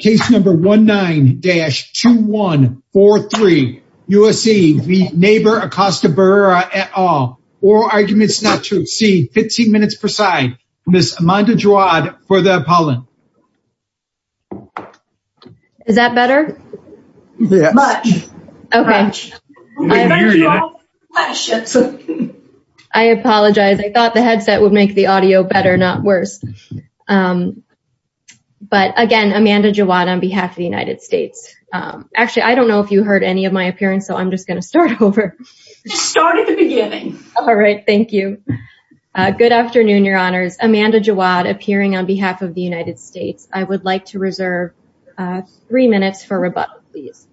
Case number 19-2143. U.S.A. v. Nabor Acosta-Barrera et al. Oral arguments not true. C. 15 minutes per side. Ms. Amanda Jowad for the appellant. Is that better? Much. Much. I apologize. I am Amanda Jowad on behalf of the United States. Actually, I don't know if you heard any of my appearance, so I'm just going to start over. Just start at the beginning. All right. Thank you. Good afternoon, your honors. Amanda Jowad appearing on behalf of the United States. I would like to reserve three minutes for rebuttal, please.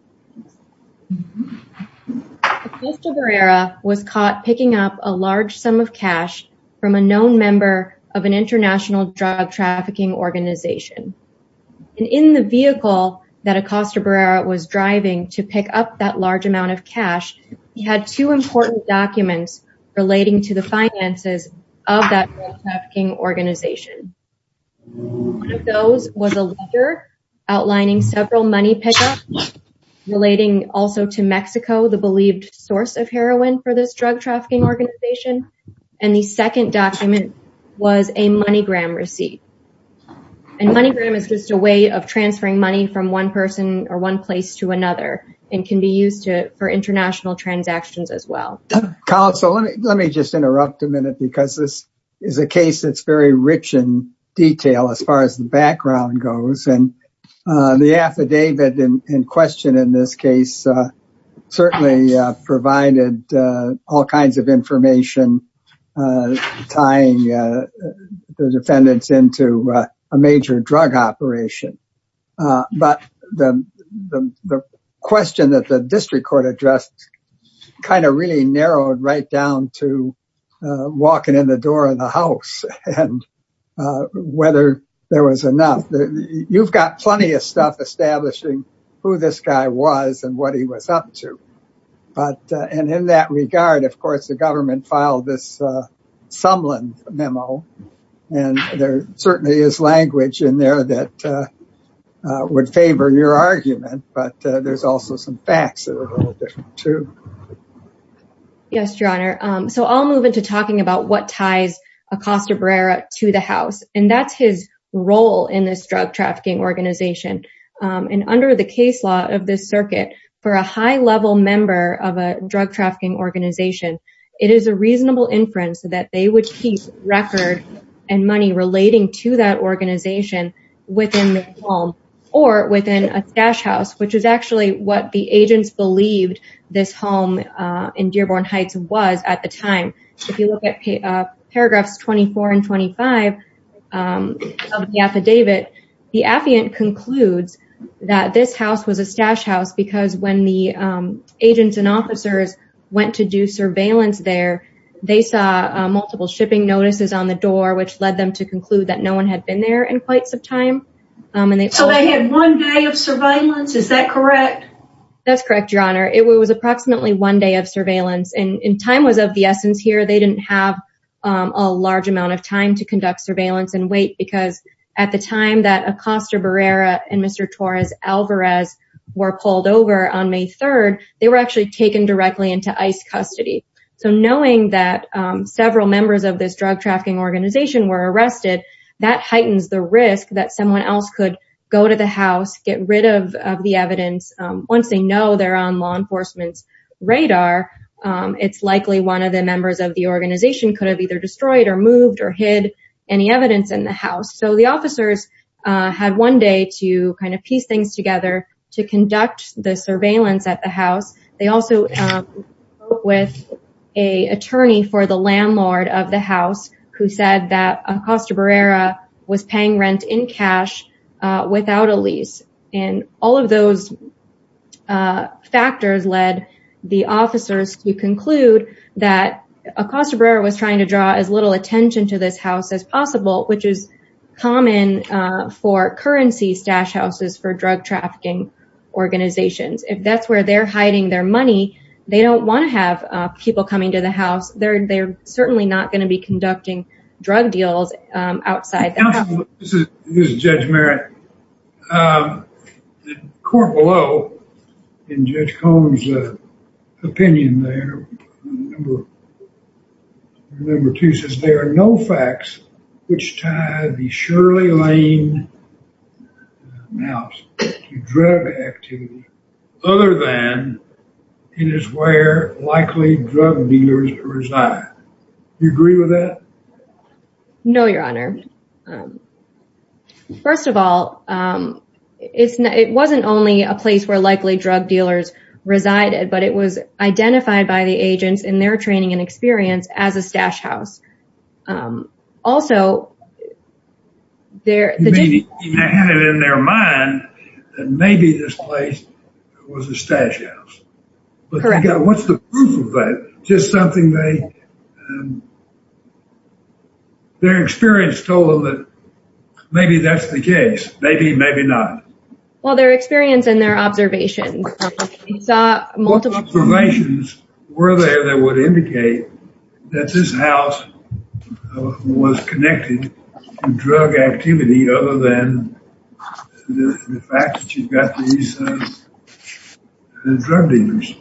Mr. Barrera was caught picking up a large sum of cash from a known member of an international drug trafficking organization. And in the vehicle that Acosta-Barrera was driving to pick up that large amount of cash, he had two important documents relating to the finances of that drug trafficking organization. One of those was a letter outlining several money pickups relating also to Mexico, the believed source of heroin for this drug trafficking organization. And the second document was a way of transferring money from one person or one place to another and can be used for international transactions as well. Counsel, let me just interrupt a minute because this is a case that's very rich in detail as far as the background goes. And the affidavit in question in this case certainly provided all kinds of information tying the defendants into a major drug operation. But the question that the district court addressed kind of really narrowed right down to walking in the door of the house and whether there was enough. You've got plenty of stuff establishing who this guy was and what he was up to. And in that regard, of course, the government filed this Sumlund memo. And there certainly is language in there that would favor your argument, but there's also some facts that are a little different too. Yes, Your Honor. So I'll move into talking about what ties Acosta-Barrera to the house. And that's role in this drug trafficking organization. And under the case law of this circuit for a high level member of a drug trafficking organization, it is a reasonable inference that they would keep record and money relating to that organization within the home or within a stash house, which is actually what the agents believed this home in Dearborn Heights was at the time. If you look at paragraphs 24 and 25 of the affidavit, the affiant concludes that this house was a stash house because when the agents and officers went to do surveillance there, they saw multiple shipping notices on the door, which led them to conclude that no one had been there in quite some time. So they had one day of surveillance. Is that correct? That's correct, Your Honor. It was approximately one day of surveillance and time was of the essence here. They didn't have a large amount of time to conduct surveillance and wait because at the time that Acosta-Barrera and Mr. Torres Alvarez were pulled over on May 3rd, they were actually taken directly into ICE custody. So knowing that several members of this drug trafficking organization were arrested, that heightens the risk that someone else could go to the house, get rid of the evidence. Once they know they're on law enforcement's radar, it's likely one of the members of the organization could have either destroyed or moved or hid any evidence in the house. So the officers had one day to kind of piece things together to conduct the surveillance at the house. They also spoke with an attorney for the landlord of the house who said that Acosta-Barrera was paying rent in cash without a lease. And all of those factors led the officers to conclude that Acosta-Barrera was trying to draw as little attention to this house as possible, which is common for currency stash houses for drug trafficking organizations. If that's where they're hiding their money, they don't want to have people coming to the house. They're certainly not going to be conducting drug deals outside. This is Judge Merritt. The court below, in Judge Cohen's opinion there, number two says, there are no facts which tie the Shirley Lane House to drug activity other than it is where likely drug dealers reside. Do you agree with that? No, your honor. First of all, it wasn't only a place where likely drug dealers resided, but it was identified by the agents in their training and experience as a stash house. You mean they had it in their mind that maybe this place was a stash house? Correct. What's the proof of that? Just something they, their experience told them that maybe that's the case. Maybe, maybe not. Well, their experience and their observations. Observations were there that would indicate that this house was connected to drug activity other than the fact that you've got these drug dealers.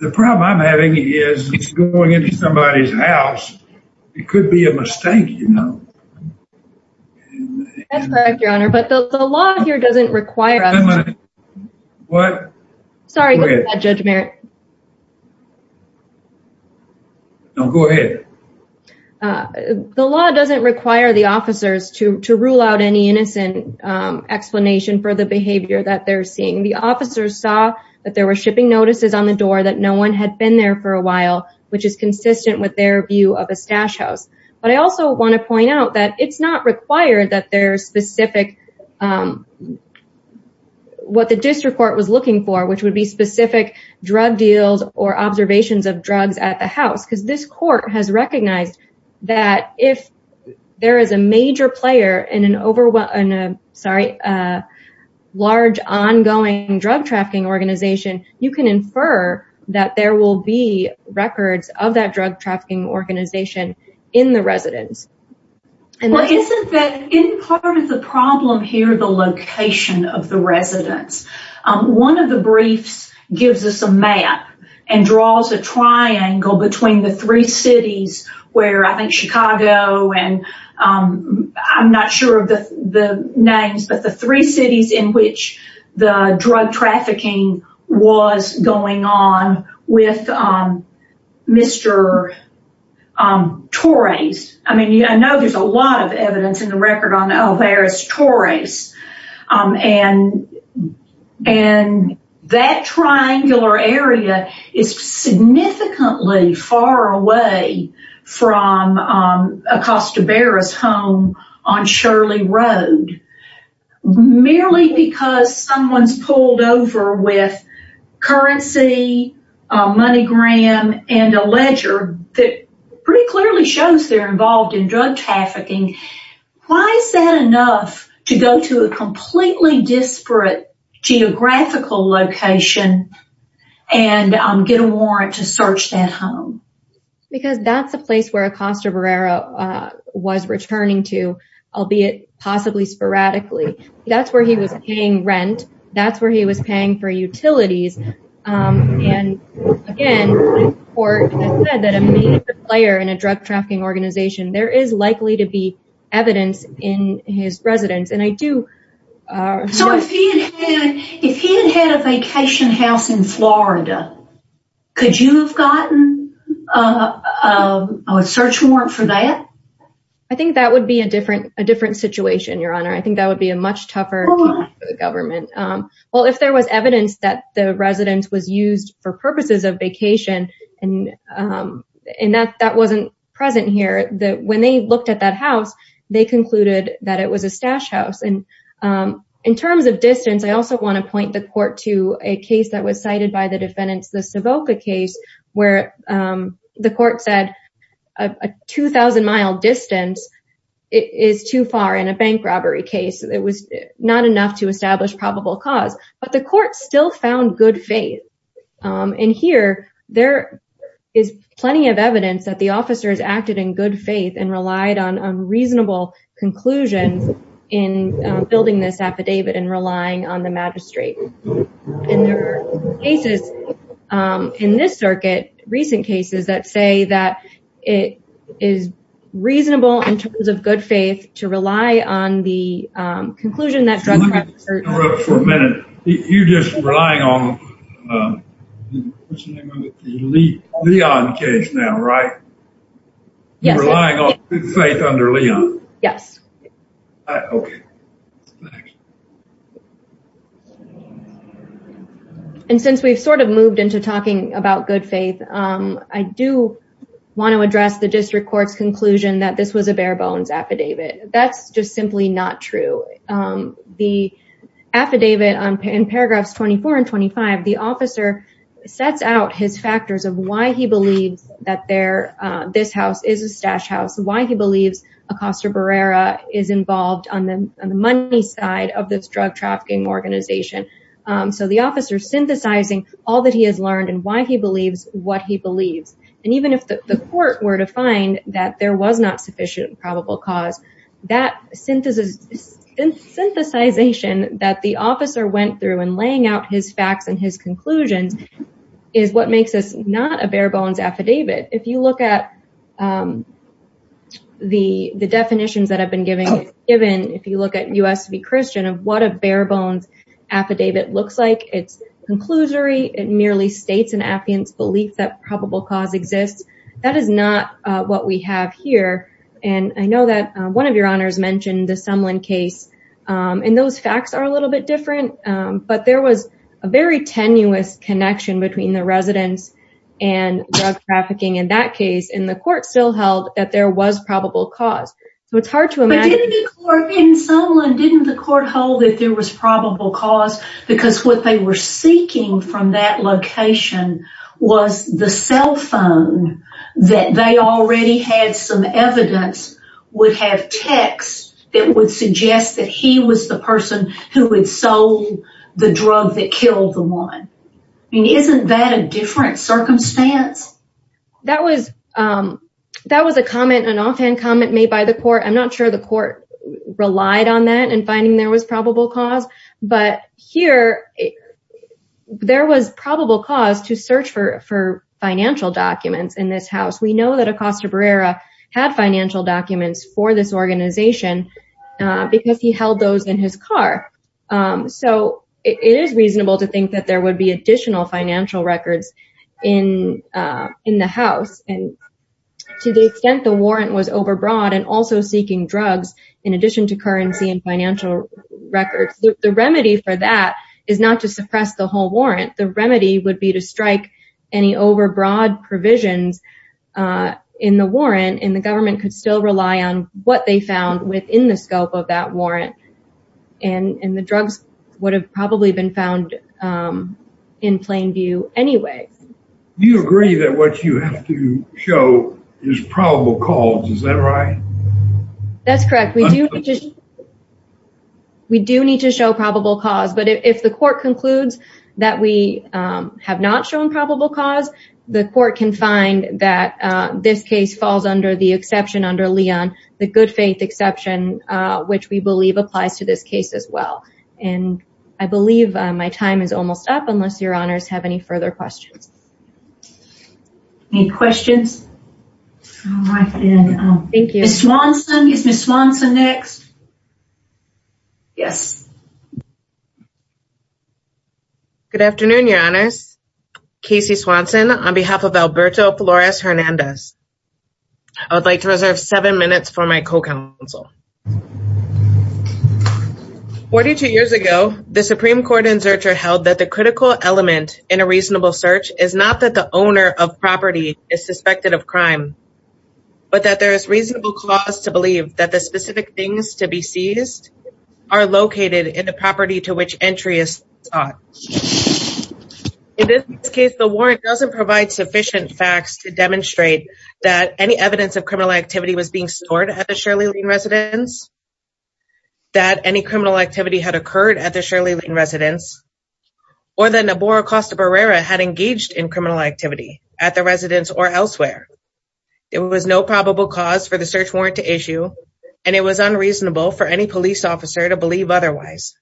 The problem I'm having is going into somebody's house. It could be a mistake, you know? That's correct, your honor. But the law doesn't require us to rule out any innocent explanation for the behavior that they're seeing. The officers saw that there were shipping notices on the door that no one had been there for a while, which is consistent with their view of a stash house. But I also want to point out that it's not required that there's specific, what the district court was looking for, which would be specific drug deals or observations of drugs at the house. Because this court has recognized that if there is a major player in a large ongoing drug trafficking organization, you can infer that there will be records of that drug trafficking organization in the residence. And isn't that part of the problem here, the location of the residence? One of the briefs gives us a map and draws a triangle between the three cities where I think Chicago and I'm not sure of the names, but the three cities in which the drug trafficking was going on with Mr. Torres. I mean, I know there's a lot of evidence in the record on Alvarez-Torres. And that triangular area is significantly far away from Acosta Berra's home on Shirley Road, merely because someone's pulled over with currency, a money gram, and a ledger that pretty clearly shows they're involved in drug trafficking. Why is that enough to go to a completely disparate geographical location and get a warrant to search that home? Because that's a place where Acosta Berra was returning to, albeit possibly sporadically. That's where he was paying rent. That's where he was paying for utilities. And again, the court has said that a major player in a drug trafficking organization, there is likely to be evidence in his residence. And I do... If he had had a vacation house in Florida, could you have gotten a search warrant for that? I think that would be a different situation, Your Honor. I think that would be a much tougher government. Well, if there was evidence that the residence was used for purposes of vacation, and that wasn't present here, that when they looked at that house, they concluded that it was a stash house. And in terms of distance, I also want to point the court to a case that was cited by the defendants, the Savoca case, where the court said a 2,000 mile distance is too far in a bank robbery case. It was not enough to establish probable cause, but the court still found good faith. And here, there is plenty of evidence that the officers acted in good faith and relied on reasonable conclusions in building this affidavit and relying on the magistrate. And there are cases in this circuit, recent cases, that say that it is reasonable in terms of good faith to rely on the conclusion that drug traffickers- For a minute, you're just relying on the Leon case now, right? Yes. Relying on good faith under Leon. Yes. Okay. And since we've sort of moved into talking about good faith, I do want to address the district court's conclusion that this was a bare bones affidavit. That's just simply not true. The affidavit in paragraphs 24 and 25, the officer sets out his factors of why he believes that this house is a stash house, why he believes Acosta Barrera is involved on the money side of this drug trafficking organization. So the officer's synthesizing all that he has learned and why he believes what he believes. And even if the court were to find that there was not probable cause, that synthesization that the officer went through in laying out his facts and his conclusions is what makes this not a bare bones affidavit. If you look at the definitions that have been given, if you look at U.S. v. Christian of what a bare bones affidavit looks like, it's conclusory. It merely states an affiant's belief that probable cause exists. That is not what we have here. And I know that one of your honors mentioned the Sumlin case. And those facts are a little bit different. But there was a very tenuous connection between the residents and drug trafficking in that case. And the court still held that there was probable cause. So it's hard to imagine. But didn't the court in Sumlin, didn't the court hold that there was probable cause? Because what they were seeking from that location was the cell phone that they already had some evidence would have text that would suggest that he was the person who had sold the drug that killed the woman. I mean, isn't that a different circumstance? That was that was a comment, an offhand comment made by the court. I'm not sure the court relied on that and finding there was probable cause. But here there was probable cause to search for financial documents in this house. We know that Acosta Barrera had financial documents for this organization because he held those in his car. So it is reasonable to think that there would be additional financial records in the house. And to the extent the warrant was overbroad and also seeking drugs in addition to currency and financial records, the remedy for is not to suppress the whole warrant. The remedy would be to strike any overbroad provisions in the warrant. And the government could still rely on what they found within the scope of that warrant. And the drugs would have probably been found in plain view anyway. Do you agree that what you have to show is probable cause? Is that right? That's correct. We do. To show probable cause. But if the court concludes that we have not shown probable cause, the court can find that this case falls under the exception under Leon, the good faith exception, which we believe applies to this case as well. And I believe my time is almost up unless your honors have any further questions. Any questions? Thank you. Ms. Swanson. Is Ms. Swanson next? Yes. Good afternoon, your honors. Casey Swanson on behalf of Alberto Flores Hernandez. I would like to reserve seven minutes for my co-counsel. 42 years ago, the Supreme Court in Zurcher held that the critical element in a reasonable search is not that the owner of property is suspected of crime, but that there is reasonable clause to believe that the specific things to be seized are located in the property to which entry is sought. In this case, the warrant doesn't provide sufficient facts to demonstrate that any evidence of criminal activity was being stored at the Shirley Lane residence, that any criminal activity had occurred at the Shirley Lane residence, or that Nabora Costa Barrera had engaged in criminal activity at the residence or elsewhere. There was no probable cause for the search warrant to issue, and it was unreasonable for any police officer to believe otherwise.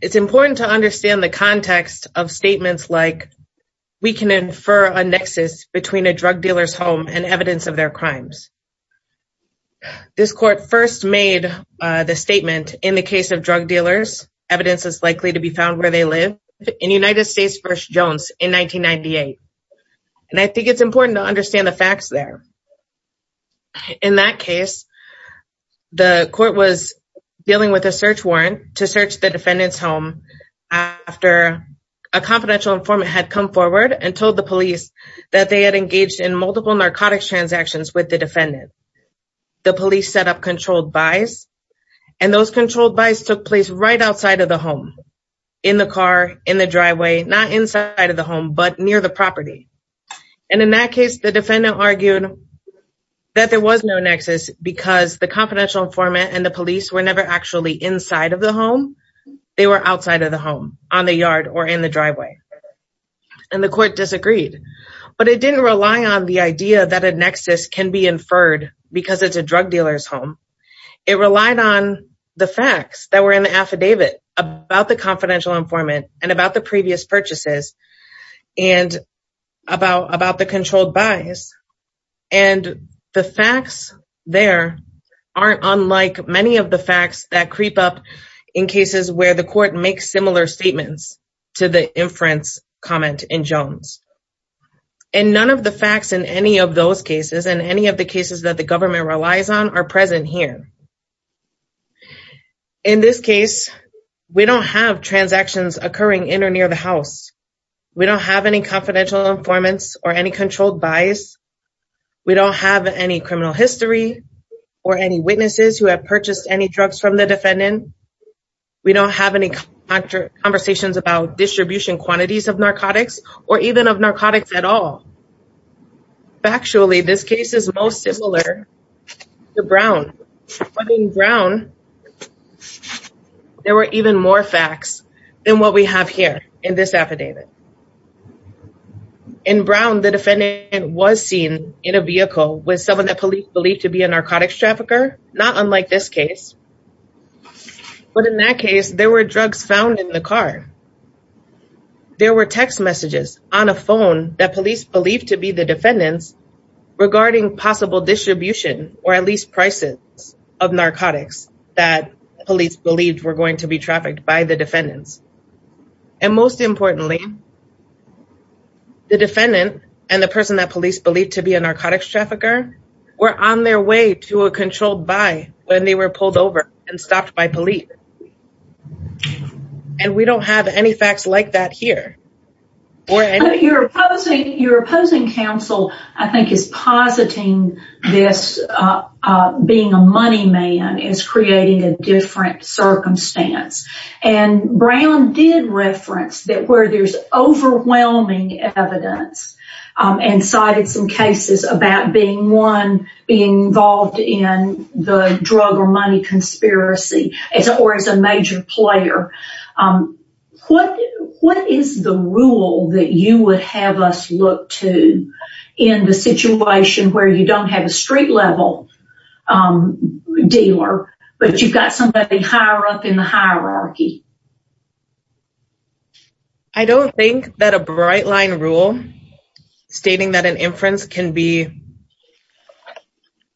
It's important to understand the context of statements like, we can infer a nexus between a drug dealer's home and evidence of their crimes. This court first made the statement in the case of drug dealers, evidence is likely to be found where they live in United States versus Jones in 1998. And I think it's important to understand the facts there. In that case, the court was dealing with a search warrant to search the defendant's home after a confidential informant had come forward and told the police that they had engaged in multiple narcotics transactions with the defendant. The police set up controlled buys, and those controlled buys took place right outside of the home, in the car, in the driveway, not inside of the home, but near the property. And in that case, the defendant argued that there was no nexus because the confidential informant and the police were never actually inside of the home, they were outside of the home, on the yard or in the driveway. And the court disagreed, but it didn't rely on the idea that a nexus can be inferred because it's a drug dealer's home. It relied on the facts that were in the affidavit about the confidential informant and about the previous purchases and about the controlled buys. And the facts there aren't unlike many of the facts that creep up in cases where the court makes similar statements to the inference comment in Jones. And none of the facts in any of those cases that the government relies on are present here. In this case, we don't have transactions occurring in or near the house. We don't have any confidential informants or any controlled buys. We don't have any criminal history or any witnesses who have purchased any drugs from the defendant. We don't have any conversations about distribution quantities of narcotics or even of narcotics at all. Factually, this case is most similar to Brown. But in Brown, there were even more facts than what we have here in this affidavit. In Brown, the defendant was seen in a vehicle with someone that police believed to be a narcotics trafficker, not unlike this case. But in that case, there were drugs found in the car. There were text messages on a phone that police believed to be the defendants regarding possible distribution or at least prices of narcotics that police believed were going to be trafficked by the defendants. And most importantly, the defendant and the person that police believed to be a narcotics trafficker were on their way to a controlled buy when they were pulled over and stopped by police. And we don't have any facts like that here. Your opposing counsel, I think, is positing this being a money man is creating a different circumstance. And Brown did reference that where there's overwhelming evidence and cited some conspiracy or as a major player. What is the rule that you would have us look to in the situation where you don't have a street level dealer, but you've got somebody higher up in the hierarchy? I don't think that a bright line rule stating that an inference can be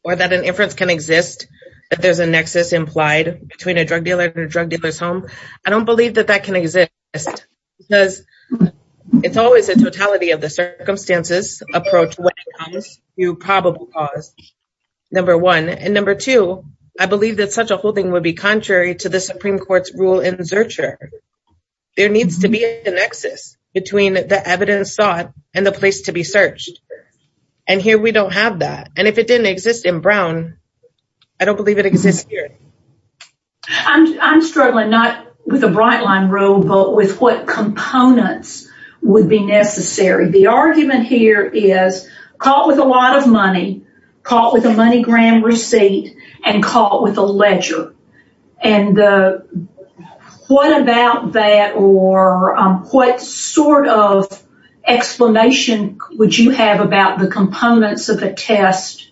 or that an inference can exist, that there's a nexus implied between a drug dealer and a drug dealer's home. I don't believe that that can exist because it's always a totality of the circumstances approach when it comes to probable cause, number one. And number two, I believe that such a holding would be contrary to the Supreme Court's rule in Zurcher. There needs to be a between the evidence sought and the place to be searched. And here we don't have that. And if it didn't exist in Brown, I don't believe it exists here. I'm struggling not with a bright line rule, but with what components would be necessary. The argument here is caught with a lot of money, caught with a money gram receipt and caught with a ledger. And what about that or what sort of explanation would you have about the components of a test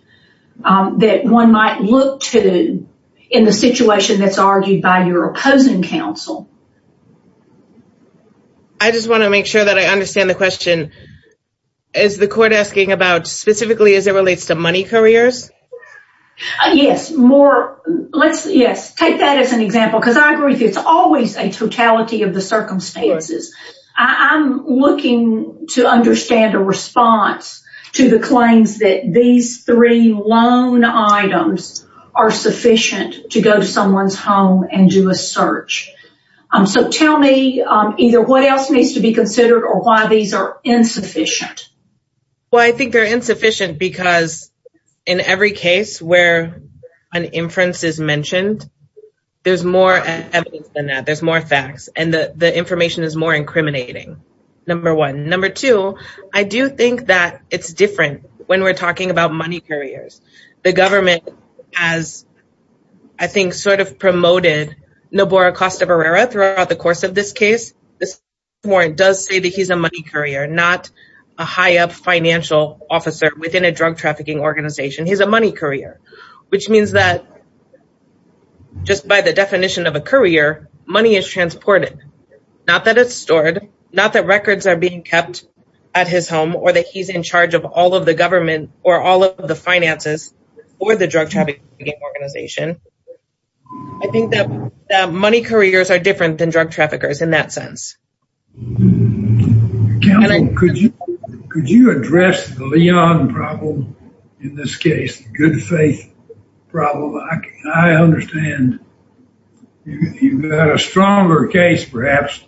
that one might look to in the situation that's argued by your opposing counsel? I just want to make sure that I understand the question. Is the court asking about specifically as it relates to money careers? Yes. Take that as an example because I agree it's always a totality of the circumstances. I'm looking to understand a response to the claims that these three loan items are sufficient to go to someone's home and do a search. So tell me either what else needs to be considered or why these are insufficient? Well, I think they're insufficient because in every case where an inference is mentioned, there's more evidence than that. There's more facts and the information is more incriminating, number one. Number two, I do think that it's different when we're talking about money carriers. The government has, I think, sort of promoted Noboro Costa-Verera throughout the course of this case. This warrant does say that he's a money courier, not a high up financial officer within a drug trafficking organization. He's a money courier, which means that just by the definition of a courier, money is transported. Not that it's stored, not that records are being kept at his home or that he's in charge of all of the government or all of the finances or the drug trafficking organization. I think that money couriers are different than drug traffickers in that sense. Counsel, could you address the Leon problem in this case, the good faith problem? I understand you've got a stronger case, perhaps,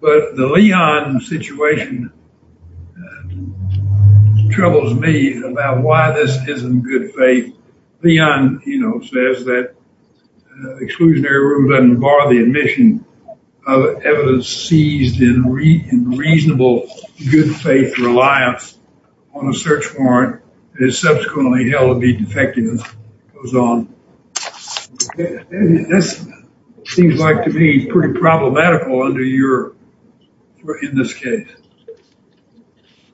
but the Leon situation troubles me about why this isn't good faith. Leon, you know, says that exclusionary rule doesn't bar the admission of evidence seized in reasonable good faith reliance on a search warrant and is subsequently held to be defective. This seems like to be pretty problematical under your, in this case.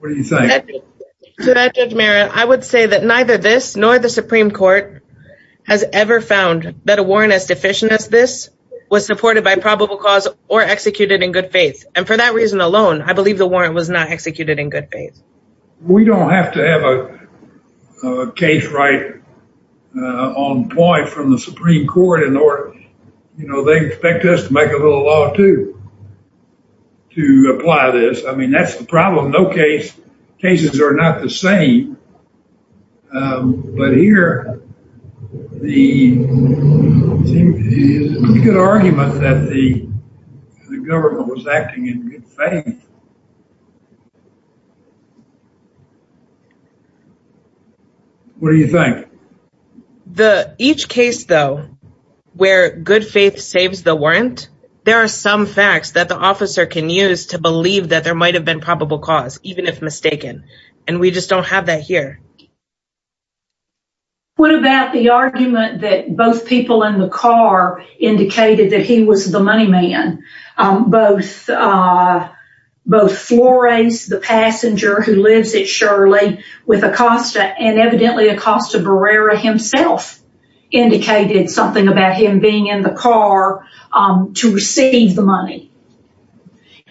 What do you think? To that Judge Merritt, I would say that neither this nor the Supreme Court has ever found that a warrant as deficient as this was supported by probable cause or executed in good faith. And for that reason alone, I believe the warrant was not executed in good faith. We don't have to have a case right on point from the Supreme Court in order, you know, they expect us to make a little law, too, to apply this. I mean, that's the problem. No cases are not the same. But here, the argument that the government was acting in good faith. What do you think? Each case though, where good faith saves the warrant, there are some facts that the officer can use to believe that there might have been probable cause, even if mistaken. And we just don't have that here. What about the argument that both people in the car indicated that he was the money man? Both Flores, the passenger who lives at Shirley, with Acosta, and evidently Acosta Barrera himself, indicated something about him being in the car to receive the money.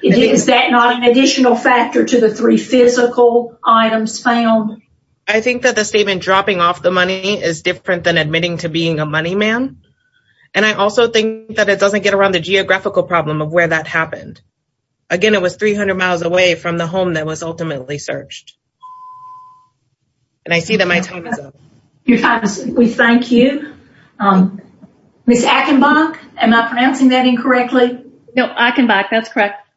Is that not an additional factor to the three physical items found? I think that the statement dropping off the money is different than admitting to being a money man. And I also think that it doesn't get around the geographical problem of where that happened. Again, it was 300 miles away from the home that was ultimately searched. And I see that my time is up. We thank you. Ms. Achenbach, am I pronouncing that incorrectly? No, Achenbach, that's correct.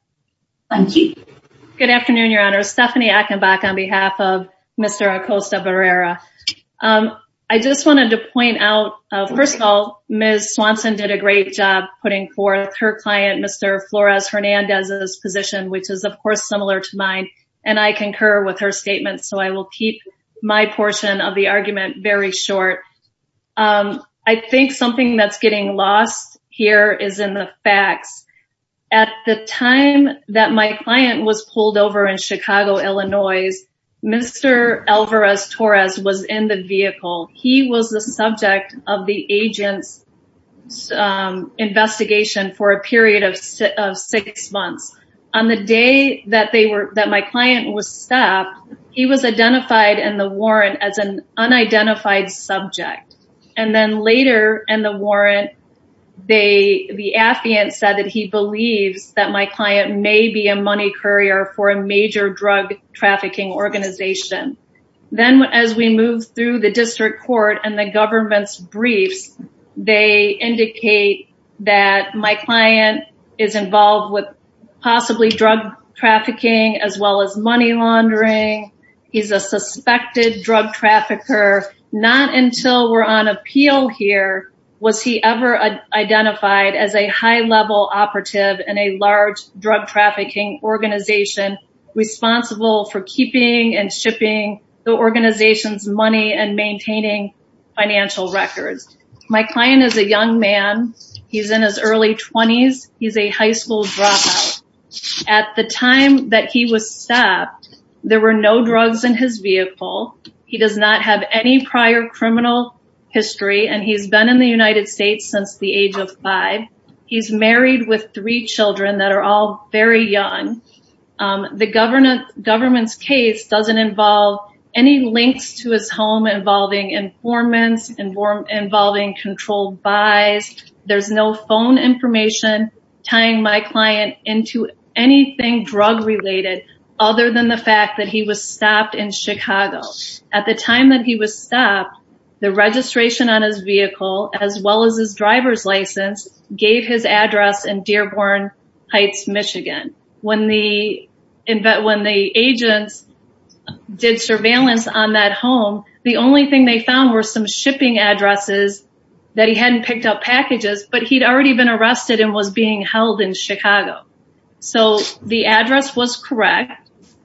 Thank you. Good afternoon, Your Honor. Stephanie Achenbach on behalf of Mr. Acosta Barrera. I just wanted to point out, first of all, Ms. Swanson did a great job putting forth her client, Mr. Flores Hernandez's position, which is of course similar to mine. And I concur with her statement. So I will keep my portion of the argument very short. I think something that's getting lost here is in the facts. At the time that my client was pulled over in Chicago, Illinois, Mr. Alvarez-Torres was in the vehicle. He was the subject of the agent's investigation for a period of six months. On the day that my client was stopped, he was identified in the warrant as an unidentified subject. And then later in the warrant, the affiant said that he believes that my client may be a money courier for a major drug trafficking organization. Then as we move through the district court and the government's briefs, they indicate that my client is involved with possibly drug trafficking as well as money laundering. He's a suspected drug trafficker. Not until we're on appeal here was he ever identified as a high-level operative in a large drug trafficking organization responsible for keeping and shipping the organization's money and maintaining financial records. My client is a young man. He's in his early twenties. He's a high school dropout. At the time that he was stopped, there were no drugs in his vehicle. He does not have any prior criminal history, and he's been in the United States since the age of five. He's married with three children that are all very young. The government's case doesn't involve any links to his home involving informants, involving controlled buys. There's no phone information tying my client into anything drug-related other than the fact that he was stopped in Chicago. At the time that he was stopped, the registration on his vehicle, as well as his driver's license, gave his address in Dearborn Heights, Michigan. When the agents did surveillance on that home, the only thing they found were some shipping addresses that he hadn't picked up packages, but he'd already been arrested and was being held in Chicago. So the address was correct.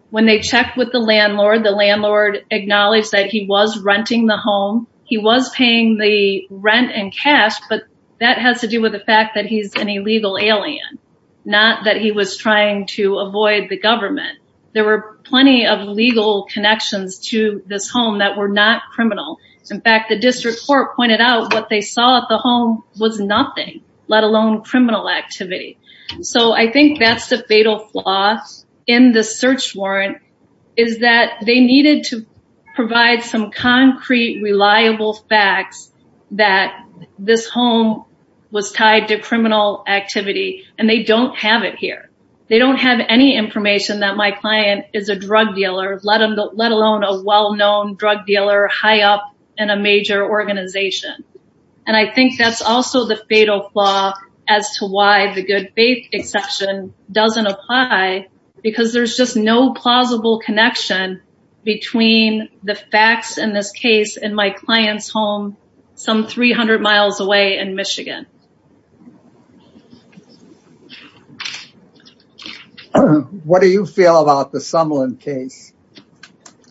When they checked with the landlord, the landlord acknowledged that he was renting the home. He was paying the rent and cash, but that has to do with the fact that he's an illegal alien, not that he was trying to avoid the government. There were plenty of legal connections to this home that were not criminal. In fact, the district court pointed out what they saw at the home was nothing, let alone criminal activity. So I think that's the concrete, reliable facts that this home was tied to criminal activity, and they don't have it here. They don't have any information that my client is a drug dealer, let alone a well-known drug dealer high up in a major organization. And I think that's also the fatal flaw as to why the good connection between the facts in this case and my client's home some 300 miles away in Michigan. What do you feel about the Sumlin case?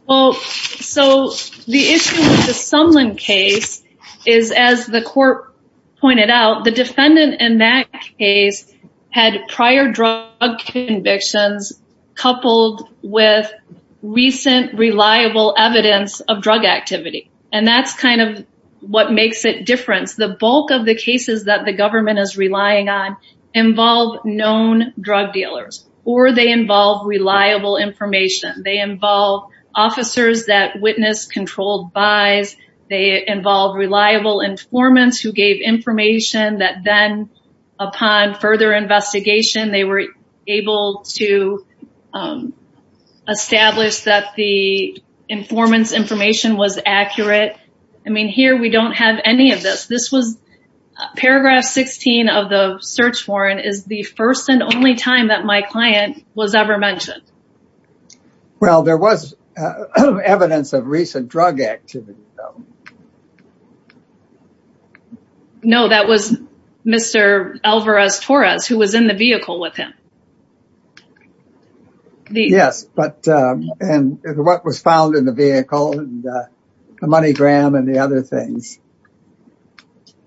Well, so the issue with the Sumlin case is, as the court pointed out, the defendant in that case had prior drug convictions coupled with recent reliable evidence of drug activity. And that's kind of what makes it different. The bulk of the cases that the government is relying on involve known drug dealers, or they involve reliable information. They involve officers that witnessed controlled buys. They involve reliable informants who gave information that then upon further investigation, they were able to establish that the informant's information was accurate. I mean, here we don't have any of this. This was paragraph 16 of the search warrant is the first and only time that my client was ever mentioned. Well, there was evidence of recent drug activity, though. No, that was Mr. Alvarez-Torres, who was in the vehicle with him. Yes, but and what was found in the vehicle and the money gram and the other things.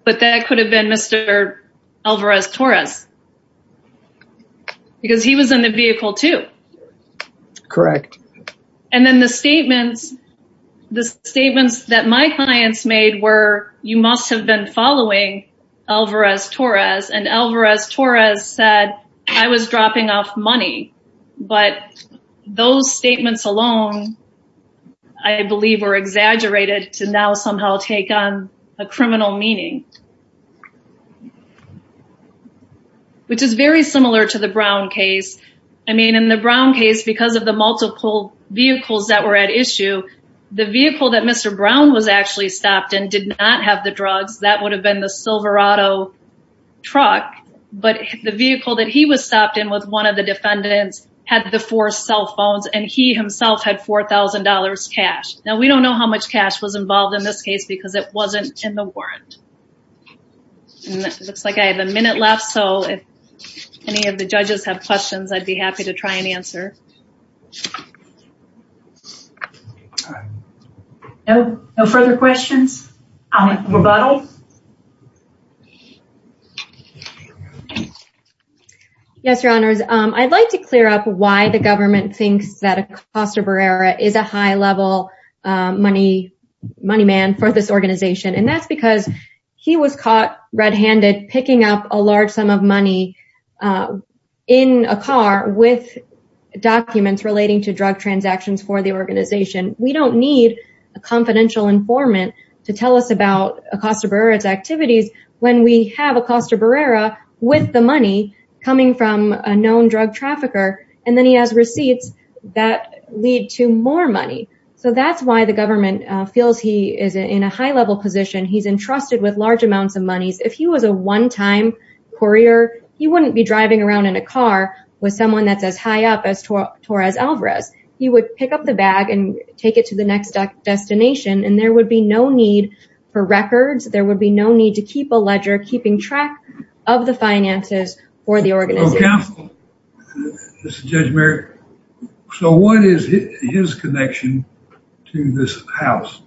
But that could have been Mr. Alvarez-Torres, because he was in the vehicle too. Correct. And then the statements that my clients made were, you must have been following Alvarez-Torres, and Alvarez-Torres said, I was dropping off money. But those statements alone, I believe, were exaggerated to now somehow take on a criminal meaning. Which is very similar to the Brown case. I mean, in the Brown case, because of the multiple vehicles that were at issue, the vehicle that Mr. Brown was actually stopped in did not have the drugs. That would have been the Silverado truck. But the vehicle that he was stopped in with one of the defendants had the four cell phones, and he himself had $4,000 cash. Now, we don't know how much cash was involved in this case, because it wasn't in the warrant. And it looks like I have a minute left, so if any of the judges have questions, I'd be happy to try and answer. All right. No further questions? Rebuttal? Yes, Your Honors. I'd like to clear up why the government thinks that Acosta Barrera is a high level money man for this organization. And that's because he was caught red-handed picking up a large sum of money in a car with documents relating to drug transactions for the organization. We don't need a confidential informant to tell us about Acosta Barrera's activities when we have Acosta Barrera with the money coming from a known drug trafficker, and then he has receipts that lead to more money. So that's why the government feels he is in a high level position. He's entrusted with large amounts of money. If he was a one-time courier, he wouldn't be driving around in a car with someone that's as high up as Torres Alvarez. He would pick up the bag and take it to the next destination, and there would be no need for records. There would be no need to keep a ledger keeping track of the finances for the organization. So what is his connection to this house?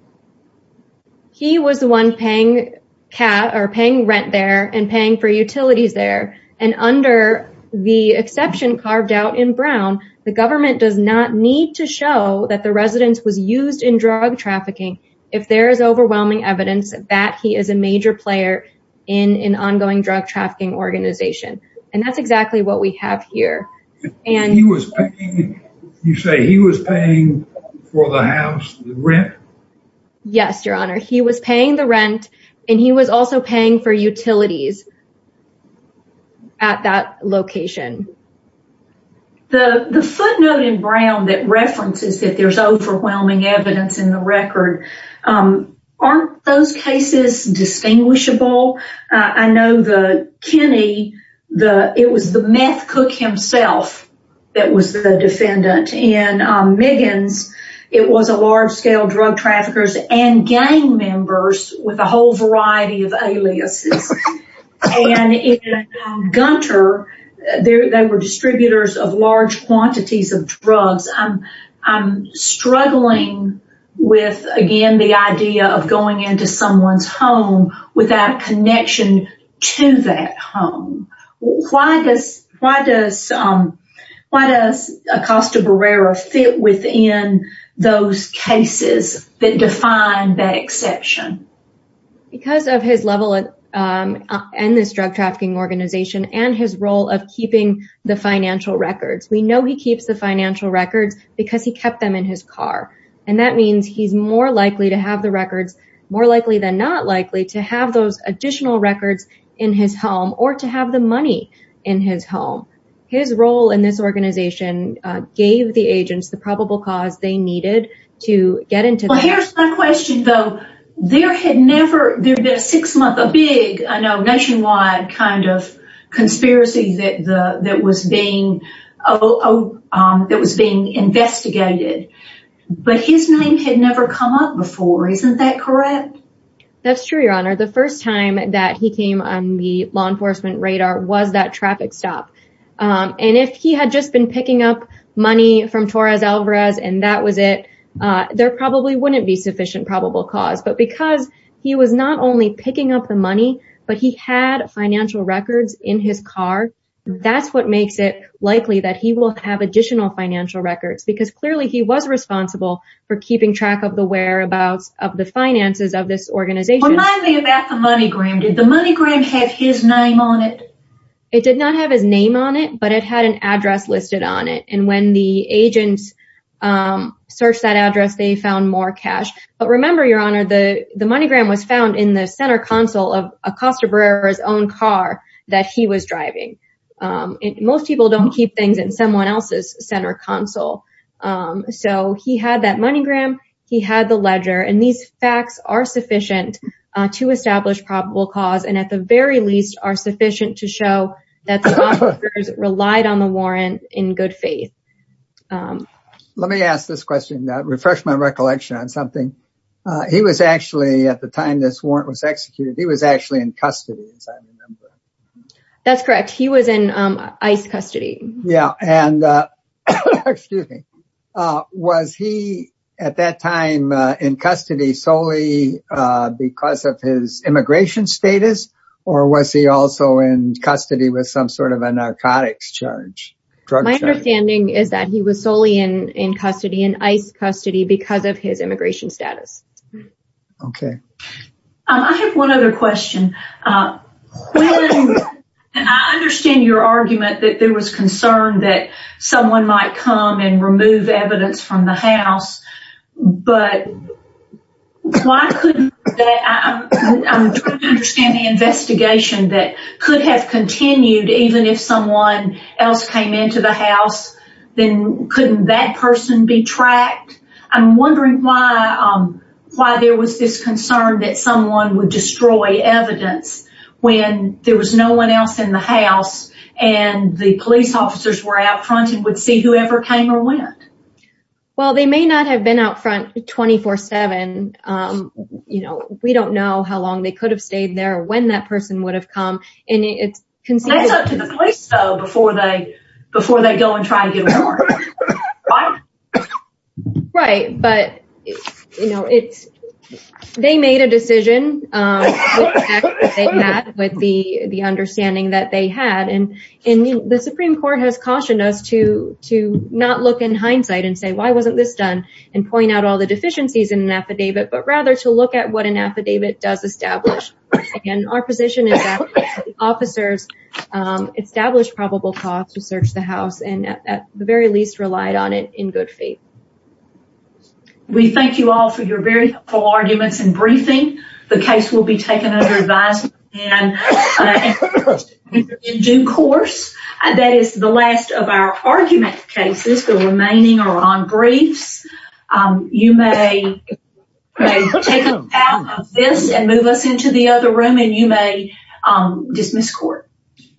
He was the one paying rent there and paying for utilities there. And under the exception carved out in Brown, the government does not need to show that the residence was used in drug trafficking if there is overwhelming evidence that he is a major player in an ongoing drug trafficking organization. And that's exactly what we have here. You say he was paying for the house, the rent? Yes, your honor. He was paying the rent and he was also paying for utilities at that location. The footnote in Brown that references that there's overwhelming evidence in the record, aren't those cases distinguishable? I know the Kenny, it was the meth cook himself that was the defendant. In Miggins, it was a large-scale drug traffickers and gang members with a whole variety of aliases. And in Gunter, they were distributors of large quantities of the drugs. So why does he fit in the idea of going into someone's home without connection to that home? Why does Acosta Barrera fit within those cases that define that exception? Because of his level in this drug trafficking organization and his role of keeping the financial records. We know he keeps the financial records because he kept them in his car. And that means he's more likely to have the records, more likely than not likely to have those additional records in his home or to have the money in his home. His role in this organization gave the agents the probable cause they needed to get into. Here's my question though. There had never been a six month, a big nationwide kind of conspiracy that was being investigated. But his name had never come up before. Isn't that correct? That's true, your honor. The first time that he came on the law enforcement radar was that traffic stop. And if he had just been picking up money from Torres Alvarez and that was it, there probably wouldn't be sufficient probable cause. But because he was not only picking up the money, but he had financial records in his car, that's what makes it likely that he will have additional financial records. Because clearly he was responsible for keeping track of the whereabouts of the finances of this organization. Remind me about the money gram. Did the money gram have his name on it? It did not have his name on it, but it had an address listed on it. And when the agents searched that address, they found more cash. But remember your honor, the money gram was found in the center console of Acosta Barrera's own car that he was driving. Most people don't keep things in someone else's center console. So he had that money gram, he had the ledger, and these facts are sufficient to establish probable cause and at the very least are sufficient to show that the officers relied on the warrant in good faith. Let me ask this question, refresh my recollection on something. He was actually, at the time this warrant was executed, he was actually in custody, as I recall. Was he at that time in custody solely because of his immigration status or was he also in custody with some sort of a narcotics charge? My understanding is that he was solely in custody, in ICE custody, because of his immigration status. Okay. I have one other question. I understand your argument that there was concern that someone might come and remove evidence from the house, but I'm trying to understand the investigation that could have continued even if someone else came into the house, then couldn't that person be tracked? I'm wondering why there was this concern that someone would destroy evidence when there was no one else in the house and the police officers were out front and would see whoever came or went. Well, they may not have been out front 24-7. We don't know how long they could have stayed there, when that person would have come. It's up to the police, though, before they go and try to get The Supreme Court has cautioned us to not look in hindsight and say, why wasn't this done and point out all the deficiencies in an affidavit, but rather to look at what an affidavit does establish. Our position is that the officers established probable cause to search the house and at the very least relied on it in good faith. We thank you all for your very helpful arguments and briefing. The case will be taken under and in due course. That is the last of our argument cases. The remaining are on briefs. You may take a bow of this and move us into the other room and you may dismiss court.